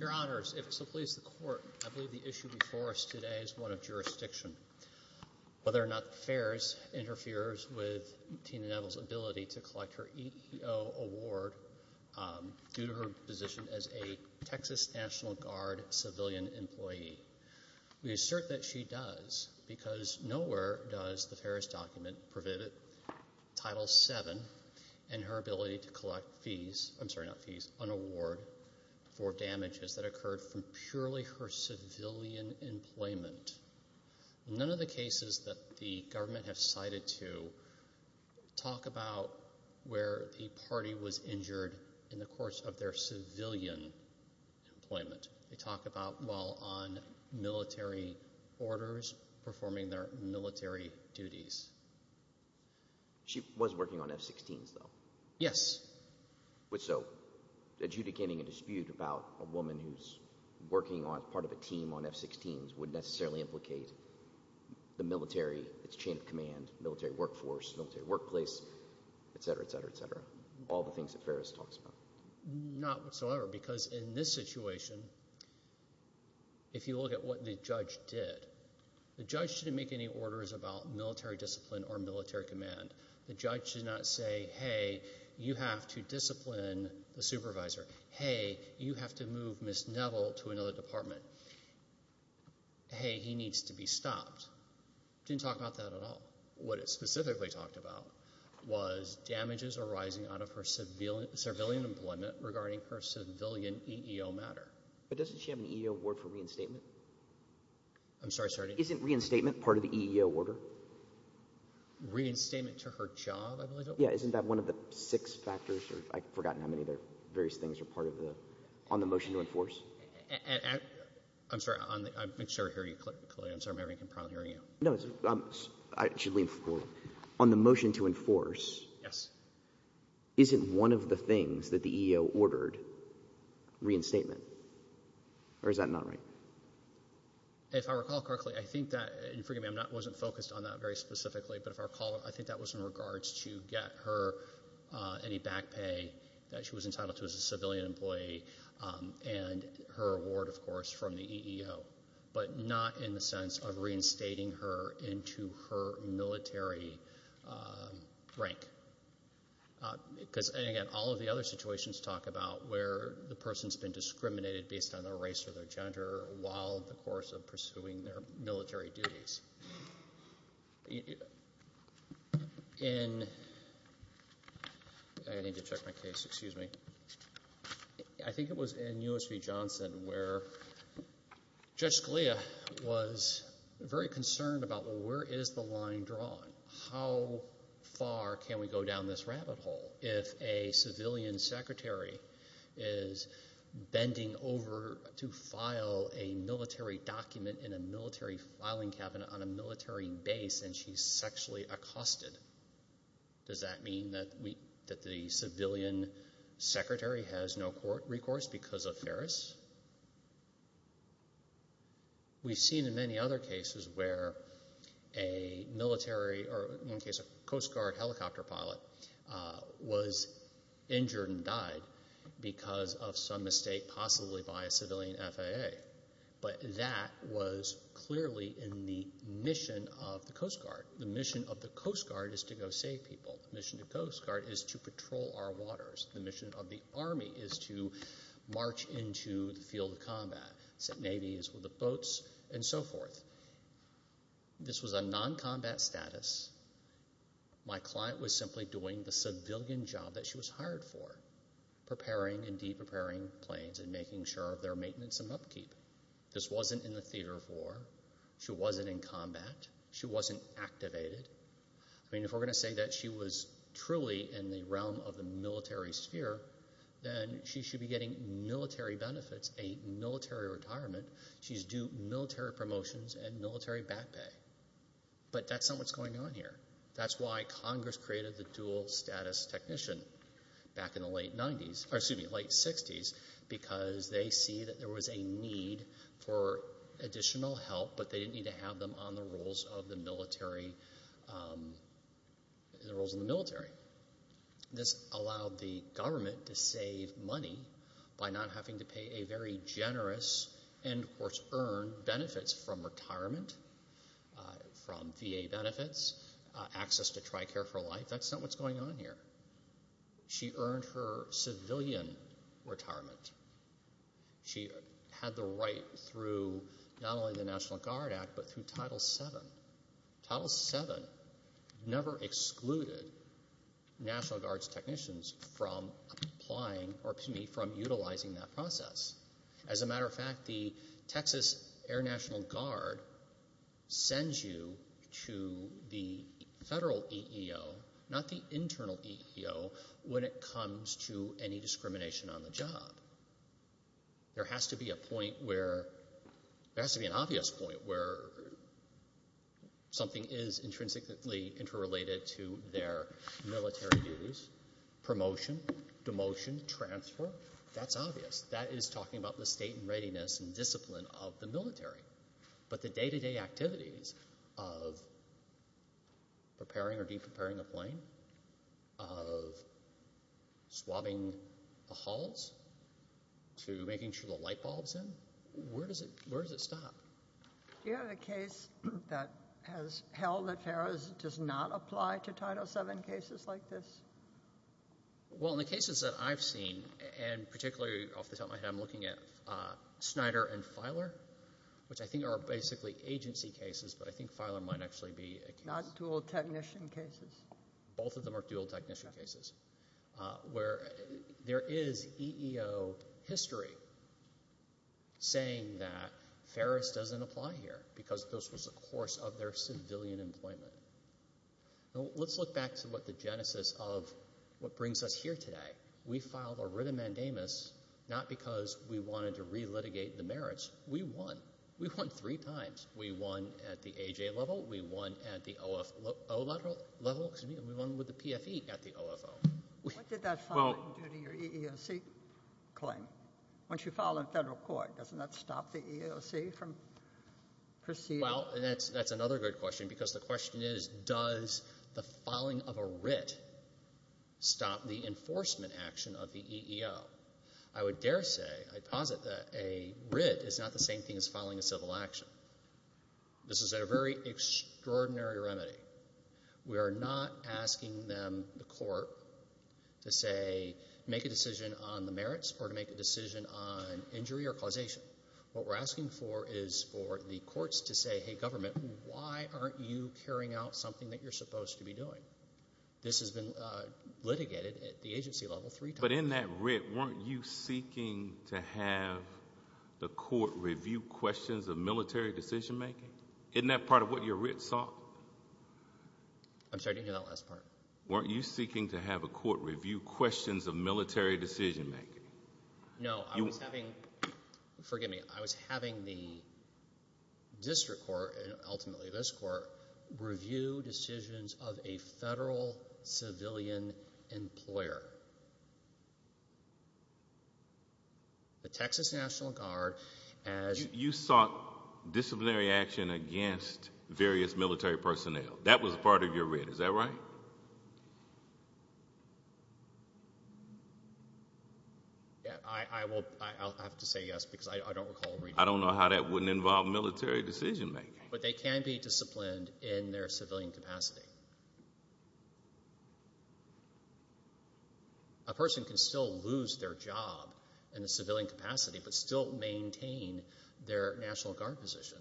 Your Honors, if it pleases the Court, I believe the issue before us today is one of jurisdiction. Whether or not FAERS interferes with Tina Neville's ability to collect her EEO award due to her position as a Texas National Guard civilian employee, we assert that she does because nowhere does the FAERS document prohibit Title VII and her ability to collect fees, I'm sorry, not fees, an award for damages that occurred from purely her civilian employment. None of the cases that the government has cited to talk about where the party was injured in the course of their civilian employment. They talk about, well, on military orders, performing their military duties. She was working on F-16s, though. Yes. So adjudicating a dispute about a woman who's working as part of a team on F-16s would necessarily implicate the military, its chain of command, military workforce, military workplace, etc., etc., etc. All the things that FAERS talks about. Not whatsoever because in this situation, if you look at what the judge did, the judge didn't make any orders about military discipline or military command. The judge did not say, hey, you have to discipline the supervisor. Hey, you have to move Ms. Neville to another department. Hey, he needs to be stopped. Didn't talk about that at all. What it specifically talked about was damages arising out of her civilian employment regarding her civilian EEO matter. But doesn't she have an EEO award for reinstatement? I'm sorry, sir. Isn't reinstatement part of the EEO order? Reinstatement to her job, I believe it was. Yes. Isn't that one of the six factors? I've forgotten how many of the various things are part of the – on the motion to enforce. I'm sorry. I'm sure I hear you clearly. I'm sorry. I'm having a problem hearing you. No. On the motion to enforce. Yes. Isn't one of the things that the EEO ordered reinstatement? Or is that not right? If I recall correctly, I think that – and forgive me, I wasn't focused on that very specifically. But if I recall, I think that was in regards to get her any back pay that she was entitled to as a civilian employee and her award, of course, from the EEO, but not in the sense of reinstating her into her military rank. Because, again, all of the other situations talk about where the person has been discriminated based on their race or their gender while the course of pursuing their military duties. In – I need to check my case, excuse me. I think it was in U.S. v. Johnson where Judge Scalia was very concerned about, well, where is the line drawn? How far can we go down this rabbit hole if a civilian secretary is bending over to file a military document in a military filing cabinet on a military base and she's sexually accosted? Does that mean that the civilian secretary has no recourse because of Ferris? We've seen in many other cases where a military or, in one case, a Coast Guard helicopter pilot was injured and died because of some mistake possibly by a civilian FAA. But that was clearly in the mission of the Coast Guard. The mission of the Coast Guard is to go save people. The mission of the Coast Guard is to patrol our waters. The mission of the Army is to march into the field of combat. The Navy is with the boats and so forth. This was a non-combat status. My client was simply doing the civilian job that she was hired for, preparing and de-preparing planes and making sure of their maintenance and upkeep. This wasn't in the theater of war. She wasn't in combat. She wasn't activated. I mean, if we're going to say that she was truly in the realm of the military sphere, then she should be getting military benefits, a military retirement. She's due military promotions and military back pay. But that's not what's going on here. That's why Congress created the dual status technician back in the late 60s because they see that there was a need for additional help, but they didn't need to have them on the roles of the military. This allowed the government to save money by not having to pay a very generous and, of course, earn benefits from retirement, from VA benefits, access to TRICARE for life. That's not what's going on here. She earned her civilian retirement. She had the right through not only the National Guard Act but through Title VII. Title VII never excluded National Guard's technicians from applying or, to me, from utilizing that process. As a matter of fact, the Texas Air National Guard sends you to the federal EEO, not the internal EEO, when it comes to any discrimination on the job. There has to be an obvious point where something is intrinsically interrelated to their military duties, promotion, demotion, transfer. That's obvious. That is talking about the state and readiness and discipline of the military. But the day-to-day activities of preparing or de-preparing a plane, of swabbing the hulls to making sure the light bulb is in, where does it stop? Do you have a case that has held that FARA does not apply to Title VII cases like this? Well, in the cases that I've seen, and particularly off the top of my head, I'm looking at Snyder and Filer, which I think are basically agency cases, but I think Filer might actually be a case. Not dual technician cases? Both of them are dual technician cases. There is EEO history saying that FARA doesn't apply here because this was the course of their civilian employment. Let's look back to what the genesis of what brings us here today. We filed a writ of mandamus not because we wanted to re-litigate the merits. We won. We won three times. We won at the AJ level. We won at the OFO level. We won with the PFE at the OFO. What did that file do to your EEOC claim? Once you file in federal court, doesn't that stop the EEOC from proceeding? That's another good question because the question is, does the filing of a writ stop the enforcement action of the EEO? I would dare say, I posit that a writ is not the same thing as filing a civil action. This is a very extraordinary remedy. We are not asking them, the court, to say make a decision on the merits or to make a decision on injury or causation. What we're asking for is for the courts to say, hey, government, why aren't you carrying out something that you're supposed to be doing? This has been litigated at the agency level three times. But in that writ, weren't you seeking to have the court review questions of military decision making? Isn't that part of what your writ sought? I'm sorry, I didn't hear that last part. Weren't you seeking to have a court review questions of military decision making? No. Forgive me. I was having the district court, and ultimately this court, review decisions of a federal civilian employer. The Texas National Guard, as... You sought disciplinary action against various military personnel. That was part of your writ. Is that right? Yes. I'll have to say yes because I don't recall... I don't know how that wouldn't involve military decision making. But they can be disciplined in their civilian capacity. A person can still lose their job in a civilian capacity but still maintain their National Guard position.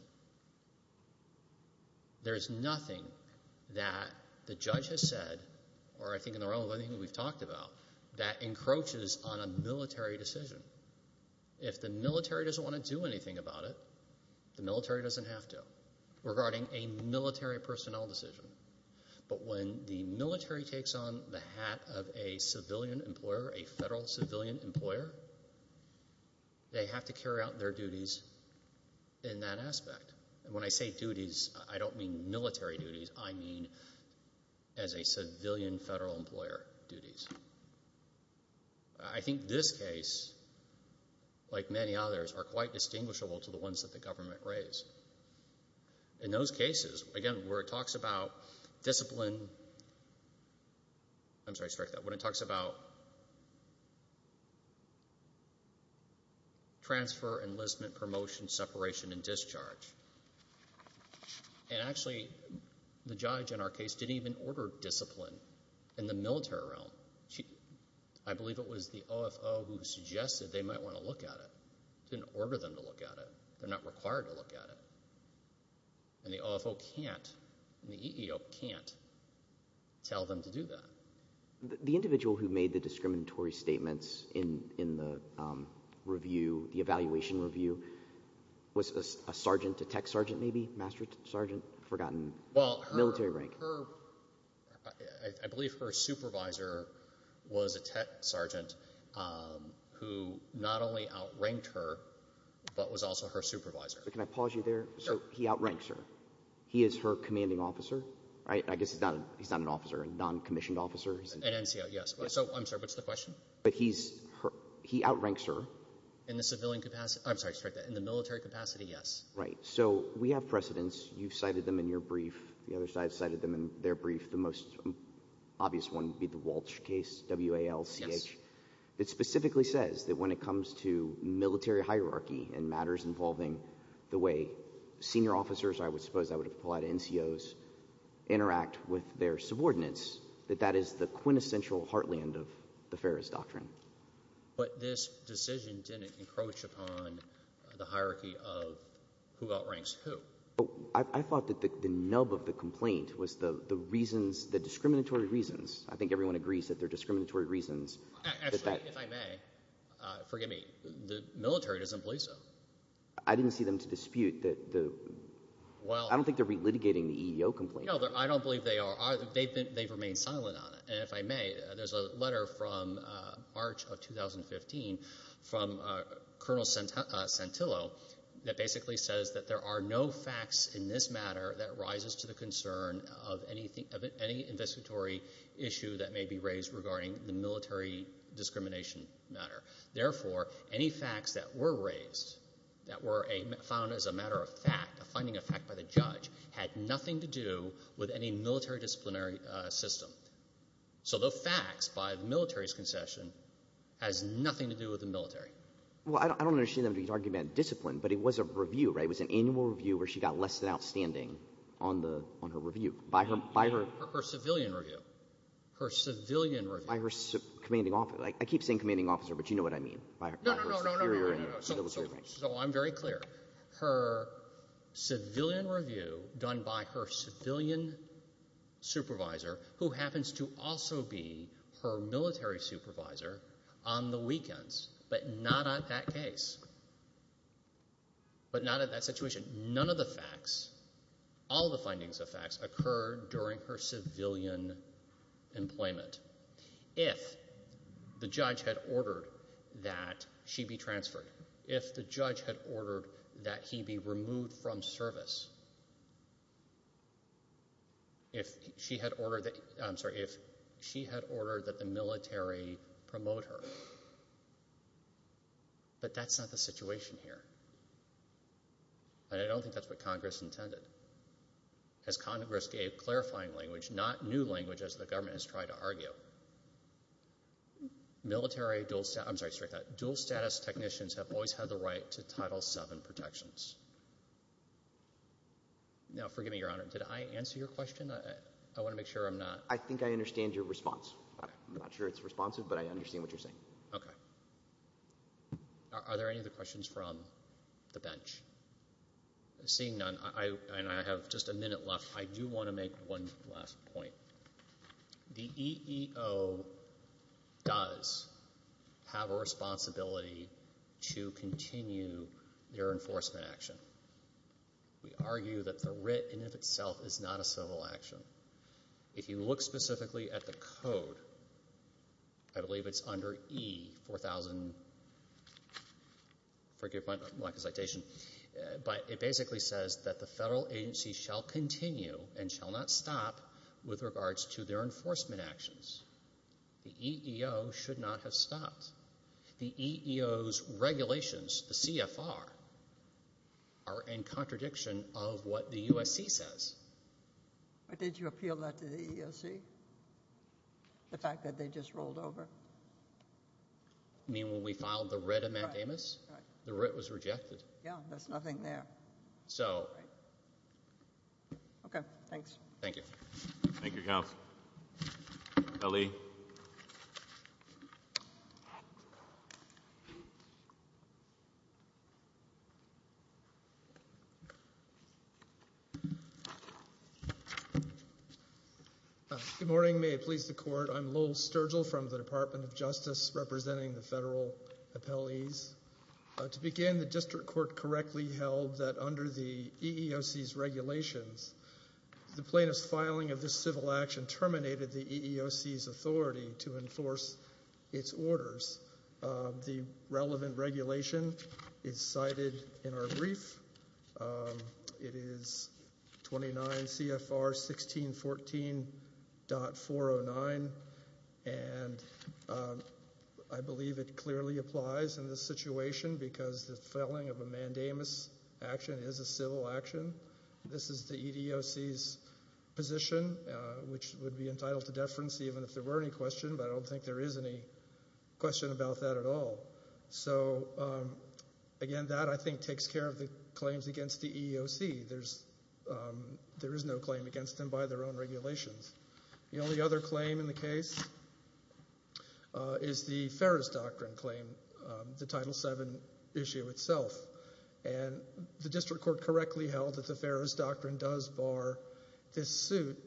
There is nothing that the judge has said, or I think in the realm of anything we've talked about, that encroaches on a military decision. If the military doesn't want to do anything about it, the military doesn't have to regarding a military personnel decision. But when the military takes on the hat of a civilian employer, a federal civilian employer, they have to carry out their duties in that aspect. When I say duties, I don't mean military duties. I mean as a civilian federal employer duties. I think this case, like many others, are quite distinguishable to the ones that the government raised. In those cases, again, where it talks about discipline... I'm sorry, strike that... when it talks about transfer, enlistment, promotion, separation, and discharge. And actually, the judge in our case didn't even order discipline in the military realm. I believe it was the OFO who suggested they might want to look at it. Didn't order them to look at it. They're not required to look at it. And the OFO can't, and the EEO can't, tell them to do that. The individual who made the discriminatory statements in the review, the evaluation review, was a sergeant, a tech sergeant maybe, master sergeant, I've forgotten, military rank. I believe her supervisor was a tech sergeant who not only outranked her, but was also her supervisor. Can I pause you there? He outranks her. He is her commanding officer. I guess he's not an officer, a non-commissioned officer. An NCO, yes. I'm sorry, what's the question? But he outranks her. In the military capacity, yes. Right. So we have precedents. You've cited them in your brief. The other side cited them in their brief. The most obvious one would be the Walsh case, W-A-L-C-H, that specifically says that when it comes to military hierarchy and matters involving the way senior officers, or I would suppose I would have called it NCOs, interact with their subordinates, that that is the quintessential heartland of the Ferris Doctrine. But this decision didn't encroach upon the hierarchy of who outranks who. I thought that the nub of the complaint was the reasons, the discriminatory reasons. I think everyone agrees that they're discriminatory reasons. Actually, if I may, forgive me. The military doesn't believe so. I didn't see them to dispute. I don't think they're re-litigating the EEO complaint. No, I don't believe they are. They've remained silent on it. And if I may, there's a letter from March of 2015 from Colonel Santillo that basically says that there are no facts in this matter that rises to the concern of any investigatory issue that may be raised regarding the military discrimination matter. Therefore, any facts that were raised that were found as a matter of fact, a finding of fact by the judge, had nothing to do with any military disciplinary system. So the facts by the military's concession has nothing to do with the military. Well, I don't understand them to argue about discipline, but it was a review, right? It was an annual review where she got less than outstanding on her review. Her civilian review. Her civilian review. By her commanding officer. I keep saying commanding officer, but you know what I mean. No, no, no. So I'm very clear. Her civilian review done by her civilian supervisor, who happens to also be her military supervisor, on the weekends, but not at that case, but not at that situation. None of the facts, all the findings of facts, occurred during her civilian employment. If the judge had ordered that she be transferred, if the judge had ordered that he be removed from service, if she had ordered that the military promote her. But that's not the situation here. And I don't think that's what Congress intended. As Congress gave clarifying language, not new language as the government has tried to argue, military dual status technicians have always had the right to Title VII protections. Now, forgive me, Your Honor, did I answer your question? I want to make sure I'm not. I think I understand your response. I'm not sure it's responsive, but I understand what you're saying. Okay. Are there any other questions from the bench? Seeing none, and I have just a minute left, I do want to make one last point. The EEO does have a responsibility to continue their enforcement action. We argue that the writ in and of itself is not a civil action. If you look specifically at the code, I believe it's under E4000, forgive my citation, but it basically says that the federal agency shall continue and shall not stop with regards to their enforcement actions. The EEO should not have stopped. The EEO's regulations, the CFR, are in contradiction of what the USC says. Did you appeal that to the EEOC, the fact that they just rolled over? You mean when we filed the writ of Matt Damas? Right. The writ was rejected. Yeah, there's nothing there. So. Okay, thanks. Thank you. Ali. Good morning. May it please the Court. I'm Lowell Sturgill from the Department of Justice, representing the federal appellees. To begin, the district court correctly held that under the EEOC's regulations, the plaintiff's filing of this civil action terminated the EEOC's authority to enforce its orders. The relevant regulation is cited in our brief. It is 29 CFR 1614.409, and I believe it clearly applies in this situation because the filing of a mandamus action is a civil action. This is the EEOC's position, which would be entitled to deference even if there were any questions, but I don't think there is any question about that at all. So, again, that I think takes care of the claims against the EEOC. There is no claim against them by their own regulations. The only other claim in the case is the Ferris Doctrine claim, the Title VII issue itself. And the district court correctly held that the Ferris Doctrine does bar this suit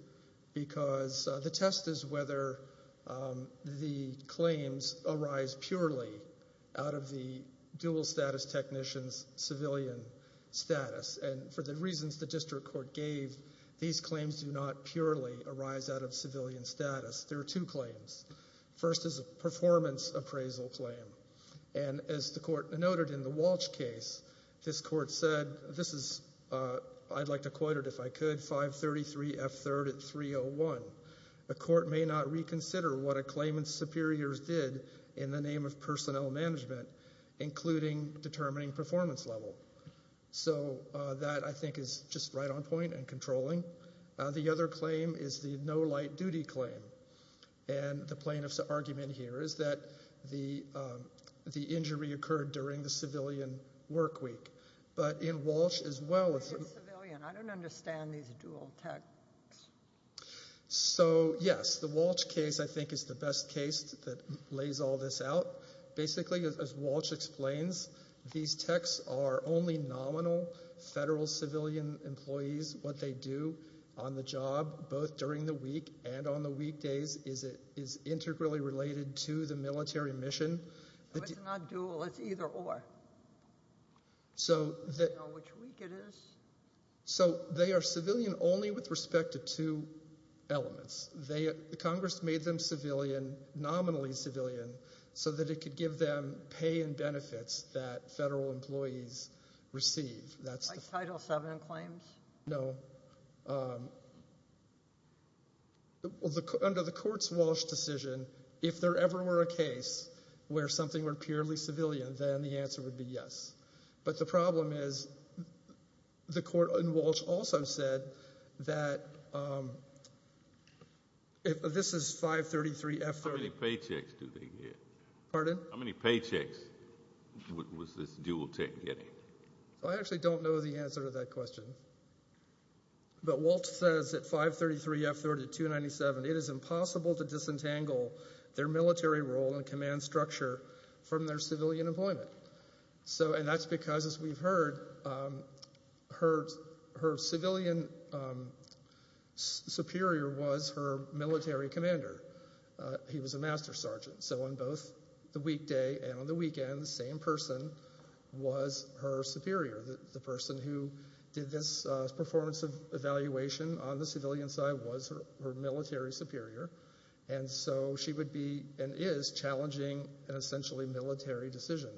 because the test is whether the claims arise purely out of the dual status technician's civilian status. And for the reasons the district court gave, these claims do not purely arise out of civilian status. There are two claims. First is a performance appraisal claim, and as the court noted in the Walsh case, this court said, this is, I'd like to quote it if I could, 533F3 at 301. A court may not reconsider what a claimant's superiors did in the name of personnel management, including determining performance level. So that, I think, is just right on point and controlling. The other claim is the no light duty claim. And the plaintiff's argument here is that the injury occurred during the civilian work week. But in Walsh as well. I don't understand these dual techs. So, yes, the Walsh case, I think, is the best case that lays all this out. Basically, as Walsh explains, these techs are only nominal federal civilian employees, what they do on the job, both during the week and on the weekdays, is integrally related to the military mission. It's not dual, it's either or. So they are civilian only with respect to two elements. Congress made them civilian, nominally civilian, so that it could give them pay and benefits that federal employees receive. Like Title VII claims? No. Under the court's Walsh decision, if there ever were a case where something were purely civilian, then the answer would be yes. But the problem is the court in Walsh also said that if this is 533F30. How many paychecks do they get? Pardon? How many paychecks was this dual tech getting? I actually don't know the answer to that question. But Walsh says that 533F30-297, it is impossible to disentangle their military role and command structure from their civilian employment. And that's because, as we've heard, her civilian superior was her military commander. He was a master sergeant. So on both the weekday and on the weekend, the same person was her superior. The person who did this performance of evaluation on the civilian side was her military superior. And so she would be and is challenging an essentially military decision.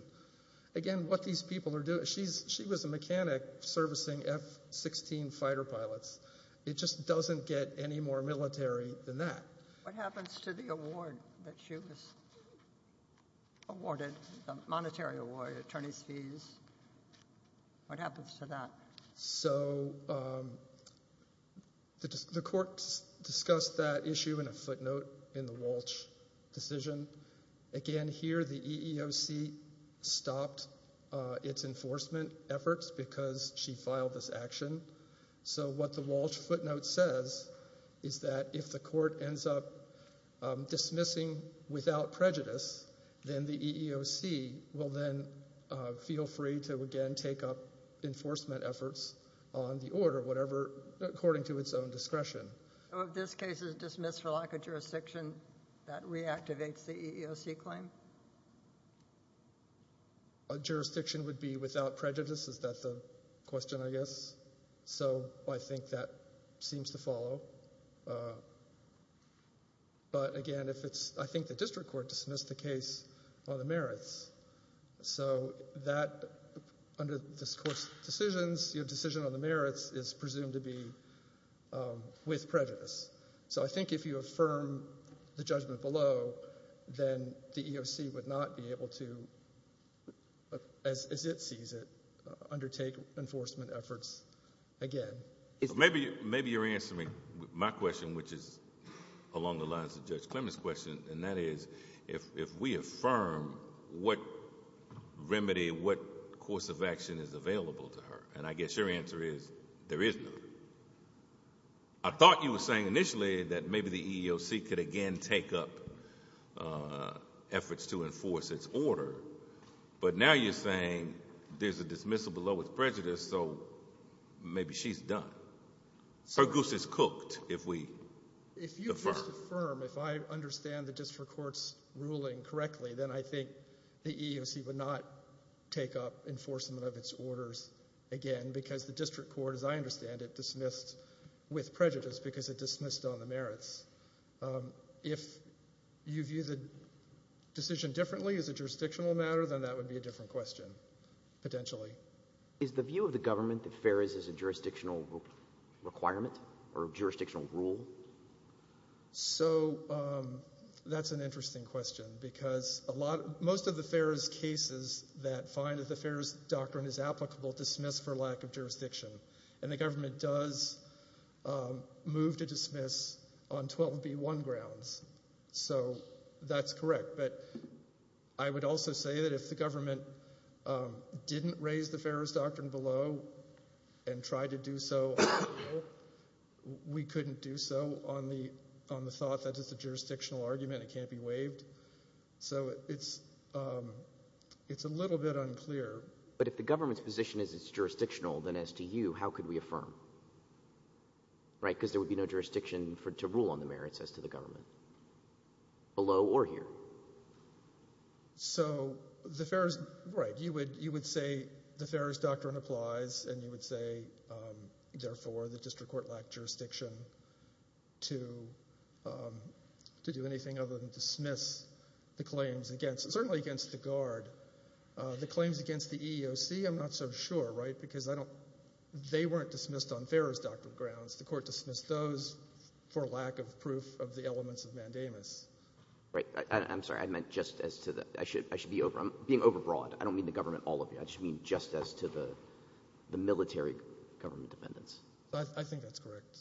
Again, what these people are doing, she was a mechanic servicing F-16 fighter pilots. It just doesn't get any more military than that. What happens to the award that she was awarded, the monetary award, attorney's fees? What happens to that? So the court discussed that issue in a footnote in the Walsh decision. Again, here the EEOC stopped its enforcement efforts because she filed this action. So what the Walsh footnote says is that if the court ends up dismissing without prejudice, then the EEOC will then feel free to again take up enforcement efforts on the order, whatever, according to its own discretion. So if this case is dismissed for lack of jurisdiction, that reactivates the EEOC claim? Jurisdiction would be without prejudice? Is that the question, I guess? So I think that seems to follow. But again, I think the district court dismissed the case on the merits. So under this court's decisions, your decision on the merits is presumed to be with prejudice. So I think if you affirm the judgment below, then the EEOC would not be able to, as it sees it, undertake enforcement efforts again. Maybe you're answering my question, which is along the lines of Judge Clement's question, and that is if we affirm what remedy, what course of action is available to her, and I guess your answer is there is no remedy. I thought you were saying initially that maybe the EEOC could again take up efforts to enforce its order, but now you're saying there's a dismissal below with prejudice, so maybe she's done. Her goose is cooked if we defer. If you just affirm, if I understand the district court's ruling correctly, then I think the EEOC would not take up enforcement of its orders again because the district court, as I understand it, dismissed with prejudice because it dismissed on the merits. If you view the decision differently as a jurisdictional matter, then that would be a different question, potentially. Is the view of the government that FARIS is a jurisdictional requirement or jurisdictional rule? So that's an interesting question because most of the FARIS cases that find that the FARIS doctrine is applicable dismiss for lack of jurisdiction, and the government does move to dismiss on 12B1 grounds. So that's correct, but I would also say that if the government didn't raise the FARIS doctrine below and tried to do so, we couldn't do so on the thought that it's a jurisdictional argument, it can't be waived. So it's a little bit unclear. But if the government's position is it's jurisdictional, then as to you, how could we affirm? Right, because there would be no jurisdiction to rule on the merits as to the government, below or here. So the FARIS, right, you would say the FARIS doctrine applies, and you would say, therefore, the district court lacked jurisdiction to do anything other than dismiss the claims against, certainly against the guard. The claims against the EEOC, I'm not so sure, right, because I don't, they weren't dismissed on FARIS doctrine grounds. The court dismissed those for lack of proof of the elements of mandamus. Right, I'm sorry. I meant just as to the, I should be over, I'm being overbroad. I don't mean the government, all of you. I just mean just as to the military government dependence. I think that's correct.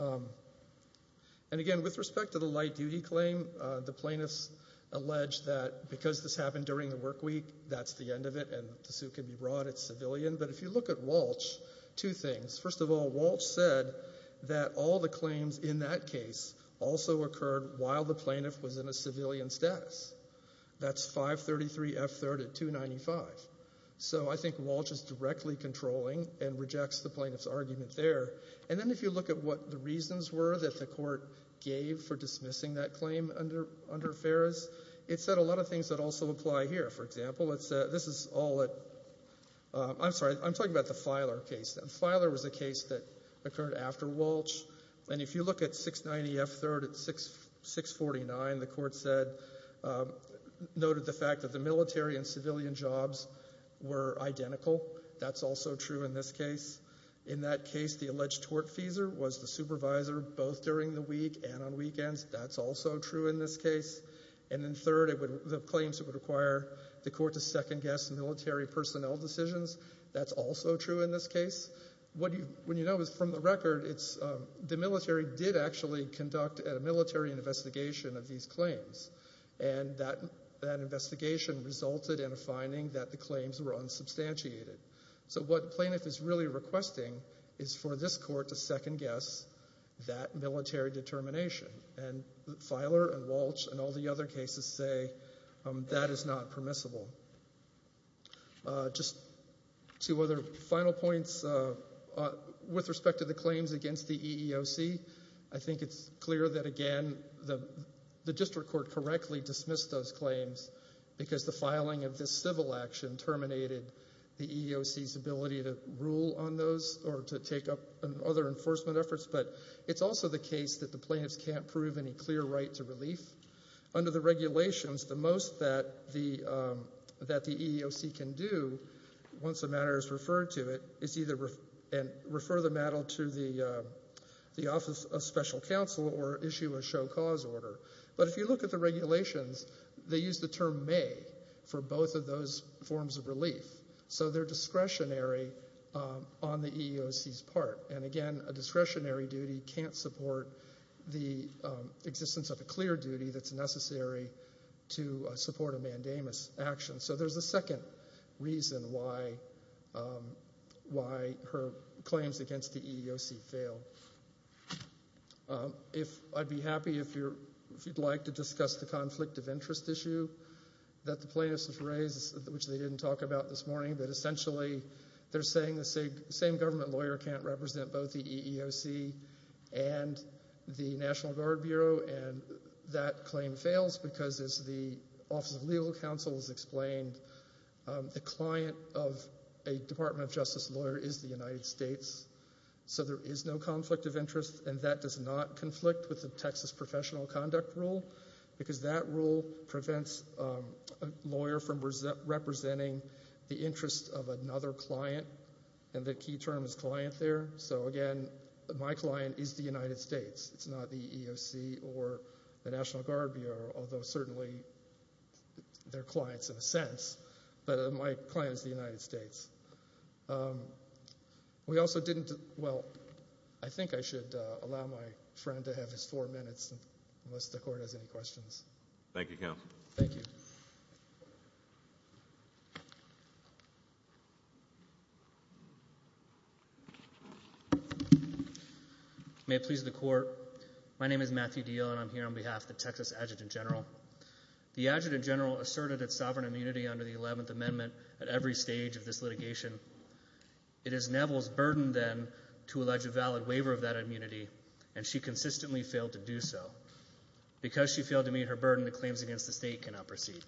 And again, with respect to the light duty claim, the plaintiffs allege that because this happened during the work week, that's the end of it, and the suit can be brought. It's civilian. But if you look at Walsh, two things. First of all, Walsh said that all the claims in that case also occurred while the plaintiff was in a civilian status. That's 533F3rd at 295. So I think Walsh is directly controlling and rejects the plaintiff's argument there. And then if you look at what the reasons were that the court gave for dismissing that claim under FARIS, it said a lot of things that also apply here. For example, this is all at, I'm sorry, I'm talking about the Filer case. Filer was a case that occurred after Walsh, and if you look at 690F3rd at 649, the court said, noted the fact that the military and civilian jobs were identical. That's also true in this case. In that case, the alleged tortfeasor was the supervisor both during the week and on weekends. That's also true in this case. And then third, the claims that would require the court to second-guess military personnel decisions, that's also true in this case. What you know is from the record, the military did actually conduct a military investigation of these claims, and that investigation resulted in a finding that the claims were unsubstantiated. So what Planoff is really requesting is for this court to second-guess that military determination. And Filer and Walsh and all the other cases say that is not permissible. Just two other final points with respect to the claims against the EEOC. I think it's clear that, again, the district court correctly dismissed those claims because the filing of this civil action terminated the EEOC's ability to rule on those or to take up other enforcement efforts, but it's also the case that the plaintiffs can't prove any clear right to relief. Under the regulations, the most that the EEOC can do, once a matter is referred to it, is either refer the matter to the Office of Special Counsel or issue a show cause order. But if you look at the regulations, they use the term may for both of those forms of relief. So they're discretionary on the EEOC's part. And again, a discretionary duty can't support the existence of a clear duty that's necessary to support a mandamus action. So there's a second reason why her claims against the EEOC fail. I'd be happy if you'd like to discuss the conflict of interest issue that the plaintiffs have raised, which they didn't talk about this morning, but essentially they're saying the same government lawyer can't represent both the EEOC and the National Guard Bureau, and that claim fails because, as the Office of Legal Counsel has explained, the client of a Department of Justice lawyer is the United States. So there is no conflict of interest, and that does not conflict with the Texas Professional Conduct Rule, because that rule prevents a lawyer from representing the interest of another client, and the key term is client there. So again, my client is the United States. It's not the EEOC or the National Guard Bureau, although certainly they're clients in a sense, but my client is the United States. We also didn't – well, I think I should allow my friend to have his four minutes, unless the Court has any questions. Thank you, Counsel. Thank you. Thank you. May it please the Court, my name is Matthew Diehl, and I'm here on behalf of the Texas Adjutant General. The Adjutant General asserted its sovereign immunity under the 11th Amendment at every stage of this litigation. It is Neville's burden, then, to allege a valid waiver of that immunity, and she consistently failed to do so. Because she failed to meet her burden, the claims against the State cannot proceed.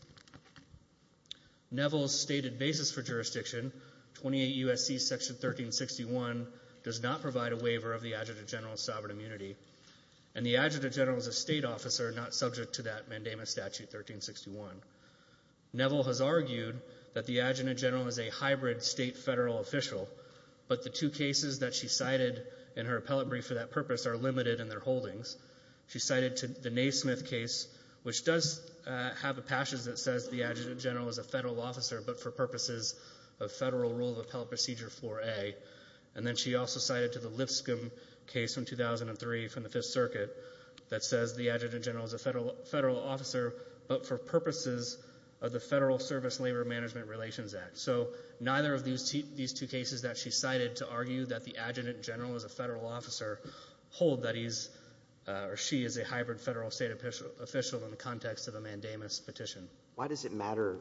Neville's stated basis for jurisdiction, 28 U.S.C. Section 1361, does not provide a waiver of the Adjutant General's sovereign immunity, and the Adjutant General is a State officer, not subject to that Mandamus Statute 1361. Neville has argued that the Adjutant General is a hybrid State-Federal official, but the two cases that she cited in her appellate brief for that purpose are limited in their holdings. She cited the Naismith case, which does have a passage that says the Adjutant General is a Federal officer, but for purposes of Federal rule of appellate procedure 4A. And then she also cited the Lipscomb case from 2003 from the Fifth Circuit that says the Adjutant General is a Federal officer, but for purposes of the Federal Service Labor Management Relations Act. So neither of these two cases that she cited to argue that the Adjutant General is a Federal officer hold that he's or she is a hybrid Federal-State official in the context of a Mandamus petition. Why does it matter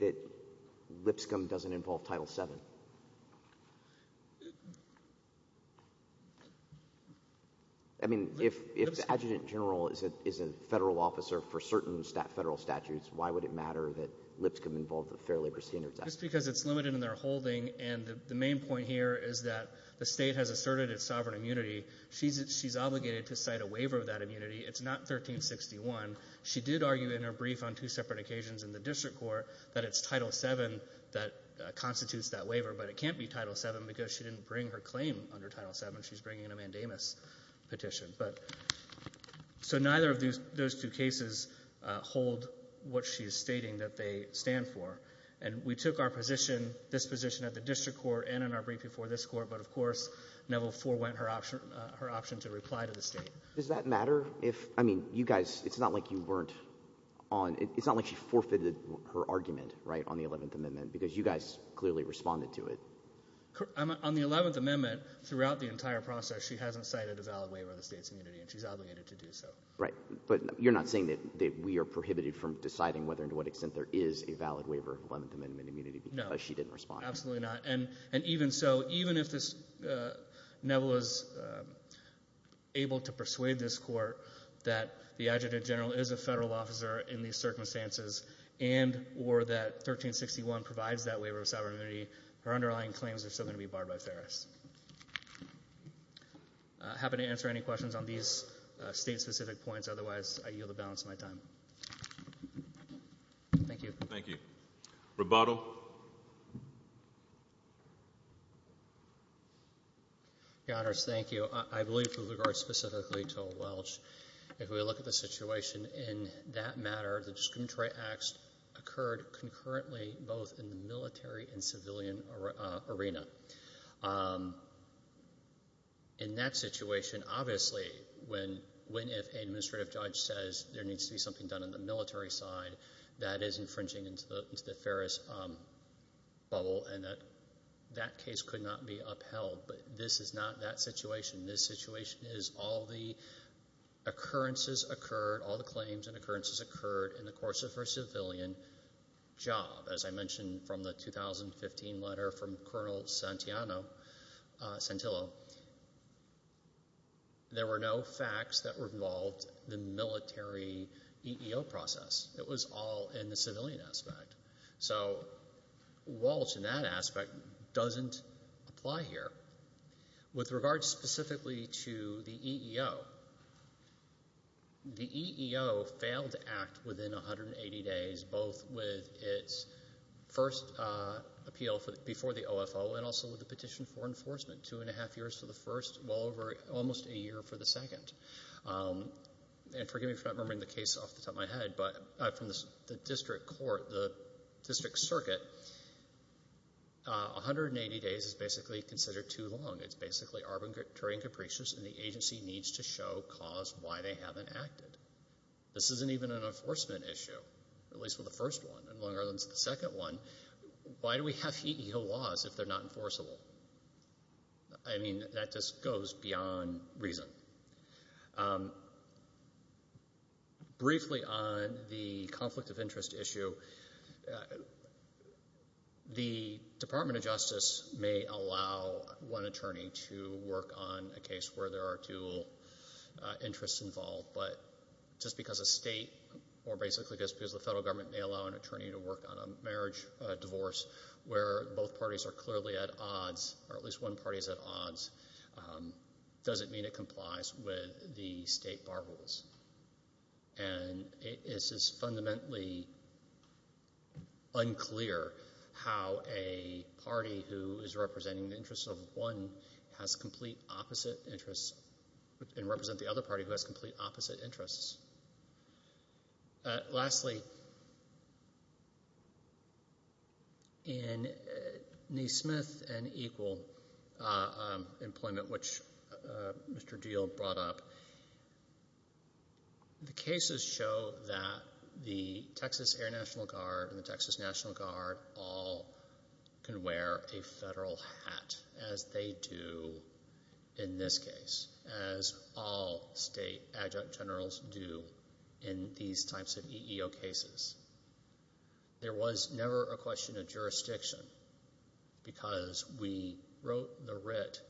that Lipscomb doesn't involve Title VII? I mean, if the Adjutant General is a Federal officer for certain Federal statutes, why would it matter that Lipscomb involved the Fair Labor Standards Act? Just because it's limited in their holding. And the main point here is that the State has asserted its sovereign immunity. She's obligated to cite a waiver of that immunity. It's not 1361. She did argue in her brief on two separate occasions in the district court that it's Title VII that constitutes that waiver, but it can't be Title VII because she didn't bring her claim under Title VII. She's bringing a Mandamus petition. So neither of those two cases hold what she is stating that they stand for. And we took our position, this position at the district court and in our brief before this court, but, of course, Neville forewent her option to reply to the State. Does that matter if, I mean, you guys, it's not like you weren't on, it's not like she forfeited her argument, right, on the Eleventh Amendment because you guys clearly responded to it. On the Eleventh Amendment, throughout the entire process, she hasn't cited a valid waiver of the State's immunity, and she's obligated to do so. Right. But you're not saying that we are prohibited from deciding whether and to what extent there is a valid waiver of Eleventh Amendment immunity because she didn't respond. No, absolutely not. And even so, even if Neville is able to persuade this court that the Adjutant General is a federal officer in these circumstances and or that 1361 provides that waiver of sovereign immunity, her underlying claims are still going to be barred by Ferris. I'm happy to answer any questions on these State-specific points. Otherwise, I yield the balance of my time. Thank you. Thank you. Roboto. Your Honors, thank you. I believe with regard specifically to Welch, if we look at the situation in that matter, the discriminatory acts occurred concurrently both in the military and civilian arena. In that situation, obviously, when an administrative judge says there needs to be something done on the military side, that is infringing into the Ferris bubble, and that case could not be upheld. But this is not that situation. This situation is all the occurrences occurred, all the claims and occurrences occurred in the course of her civilian job. As I mentioned from the 2015 letter from Colonel Santillo, there were no facts that were involved in the military EEO process. It was all in the civilian aspect. So Welch in that aspect doesn't apply here. With regard specifically to the EEO, the EEO failed to act within 180 days both with its first appeal before the OFO and also with the petition for enforcement, two and a half years for the first, well over almost a year for the second. And forgive me for not remembering the case off the top of my head, but from the district court, the district circuit, 180 days is basically considered too long. It's basically arbitrary and capricious, and the agency needs to show cause why they haven't acted. This isn't even an enforcement issue, at least with the first one. In Long Island, it's the second one. Why do we have EEO laws if they're not enforceable? I mean, that just goes beyond reason. Briefly on the conflict of interest issue, the Department of Justice may allow one attorney to work on a case where there are two interests involved, but just because a state or basically just because the federal government may allow an attorney to work on a marriage, a divorce where both parties are clearly at odds or at least one party is at odds, doesn't mean it complies with the state bar rules. And it's just fundamentally unclear how a party who is representing the interests of one has complete opposite interests and represent the other party who has complete opposite interests. Lastly, in Neesmith and Equal employment, which Mr. Diehl brought up, the cases show that the Texas Air National Guard and the Texas National Guard all can wear a federal hat, as they do in this case, as all state adjunct generals do in these types of EEO cases. There was never a question of jurisdiction because we wrote the writ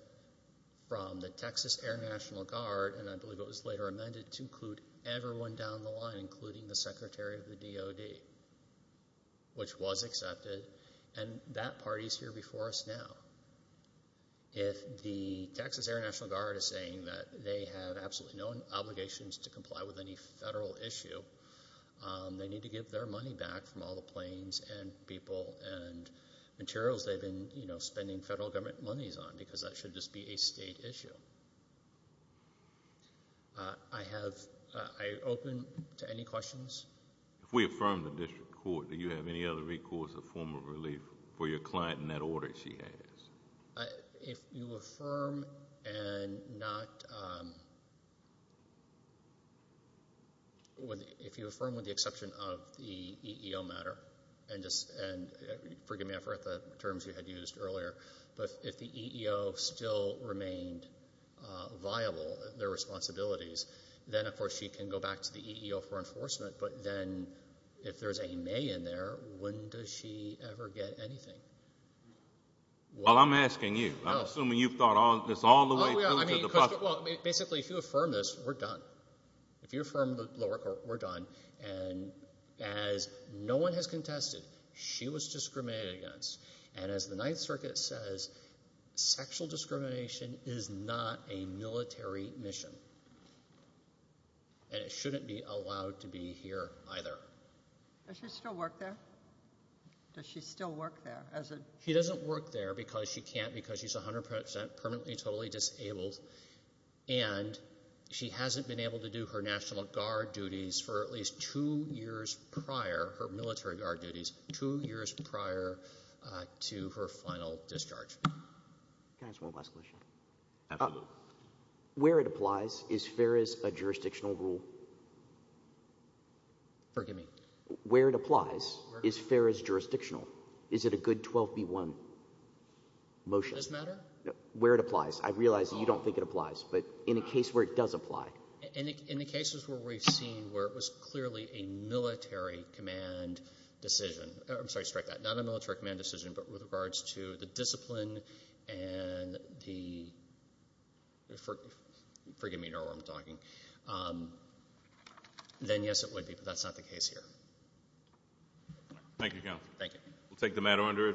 from the Texas Air National Guard, and I believe it was later amended to include everyone down the line, including the Secretary of the DOD, which was accepted, and that party is here before us now. If the Texas Air National Guard is saying that they have absolutely no obligations to comply with any federal issue, they need to give their money back from all the planes and people and materials they've been spending federal government monies on because that should just be a state issue. I open to any questions. If we affirm the district court, do you have any other recourse or form of relief for your client in that order she has? If you affirm with the exception of the EEO matter, and forgive me, I forgot the terms you had used earlier, but if the EEO still remained viable, their responsibilities, then, of course, she can go back to the EEO for enforcement, but then if there's a may in there, when does she ever get anything? Well, I'm asking you. I'm assuming you've thought this all the way through to the public. Basically, if you affirm this, we're done. If you affirm the lower court, we're done, and as no one has contested, she was discriminated against, and as the Ninth Circuit says, sexual discrimination is not a military mission, and it shouldn't be allowed to be here either. Does she still work there? Does she still work there? She doesn't work there because she can't, because she's 100% permanently totally disabled, and she hasn't been able to do her National Guard duties for at least two years prior, her military guard duties two years prior to her final discharge. Can I ask one last question? Absolutely. Where it applies, is FAERS a jurisdictional rule? Forgive me? Where it applies, is FAERS jurisdictional? Is it a good 12B1 motion? Does it matter? Where it applies. I realize that you don't think it applies, but in a case where it does apply. In the cases where we've seen where it was clearly a military command decision, I'm sorry, strike that, not a military command decision, but with regards to the discipline and the, forgive me, you know who I'm talking, then yes, it would be, but that's not the case here. Thank you, counsel. Thank you. We'll take the matter under advisement.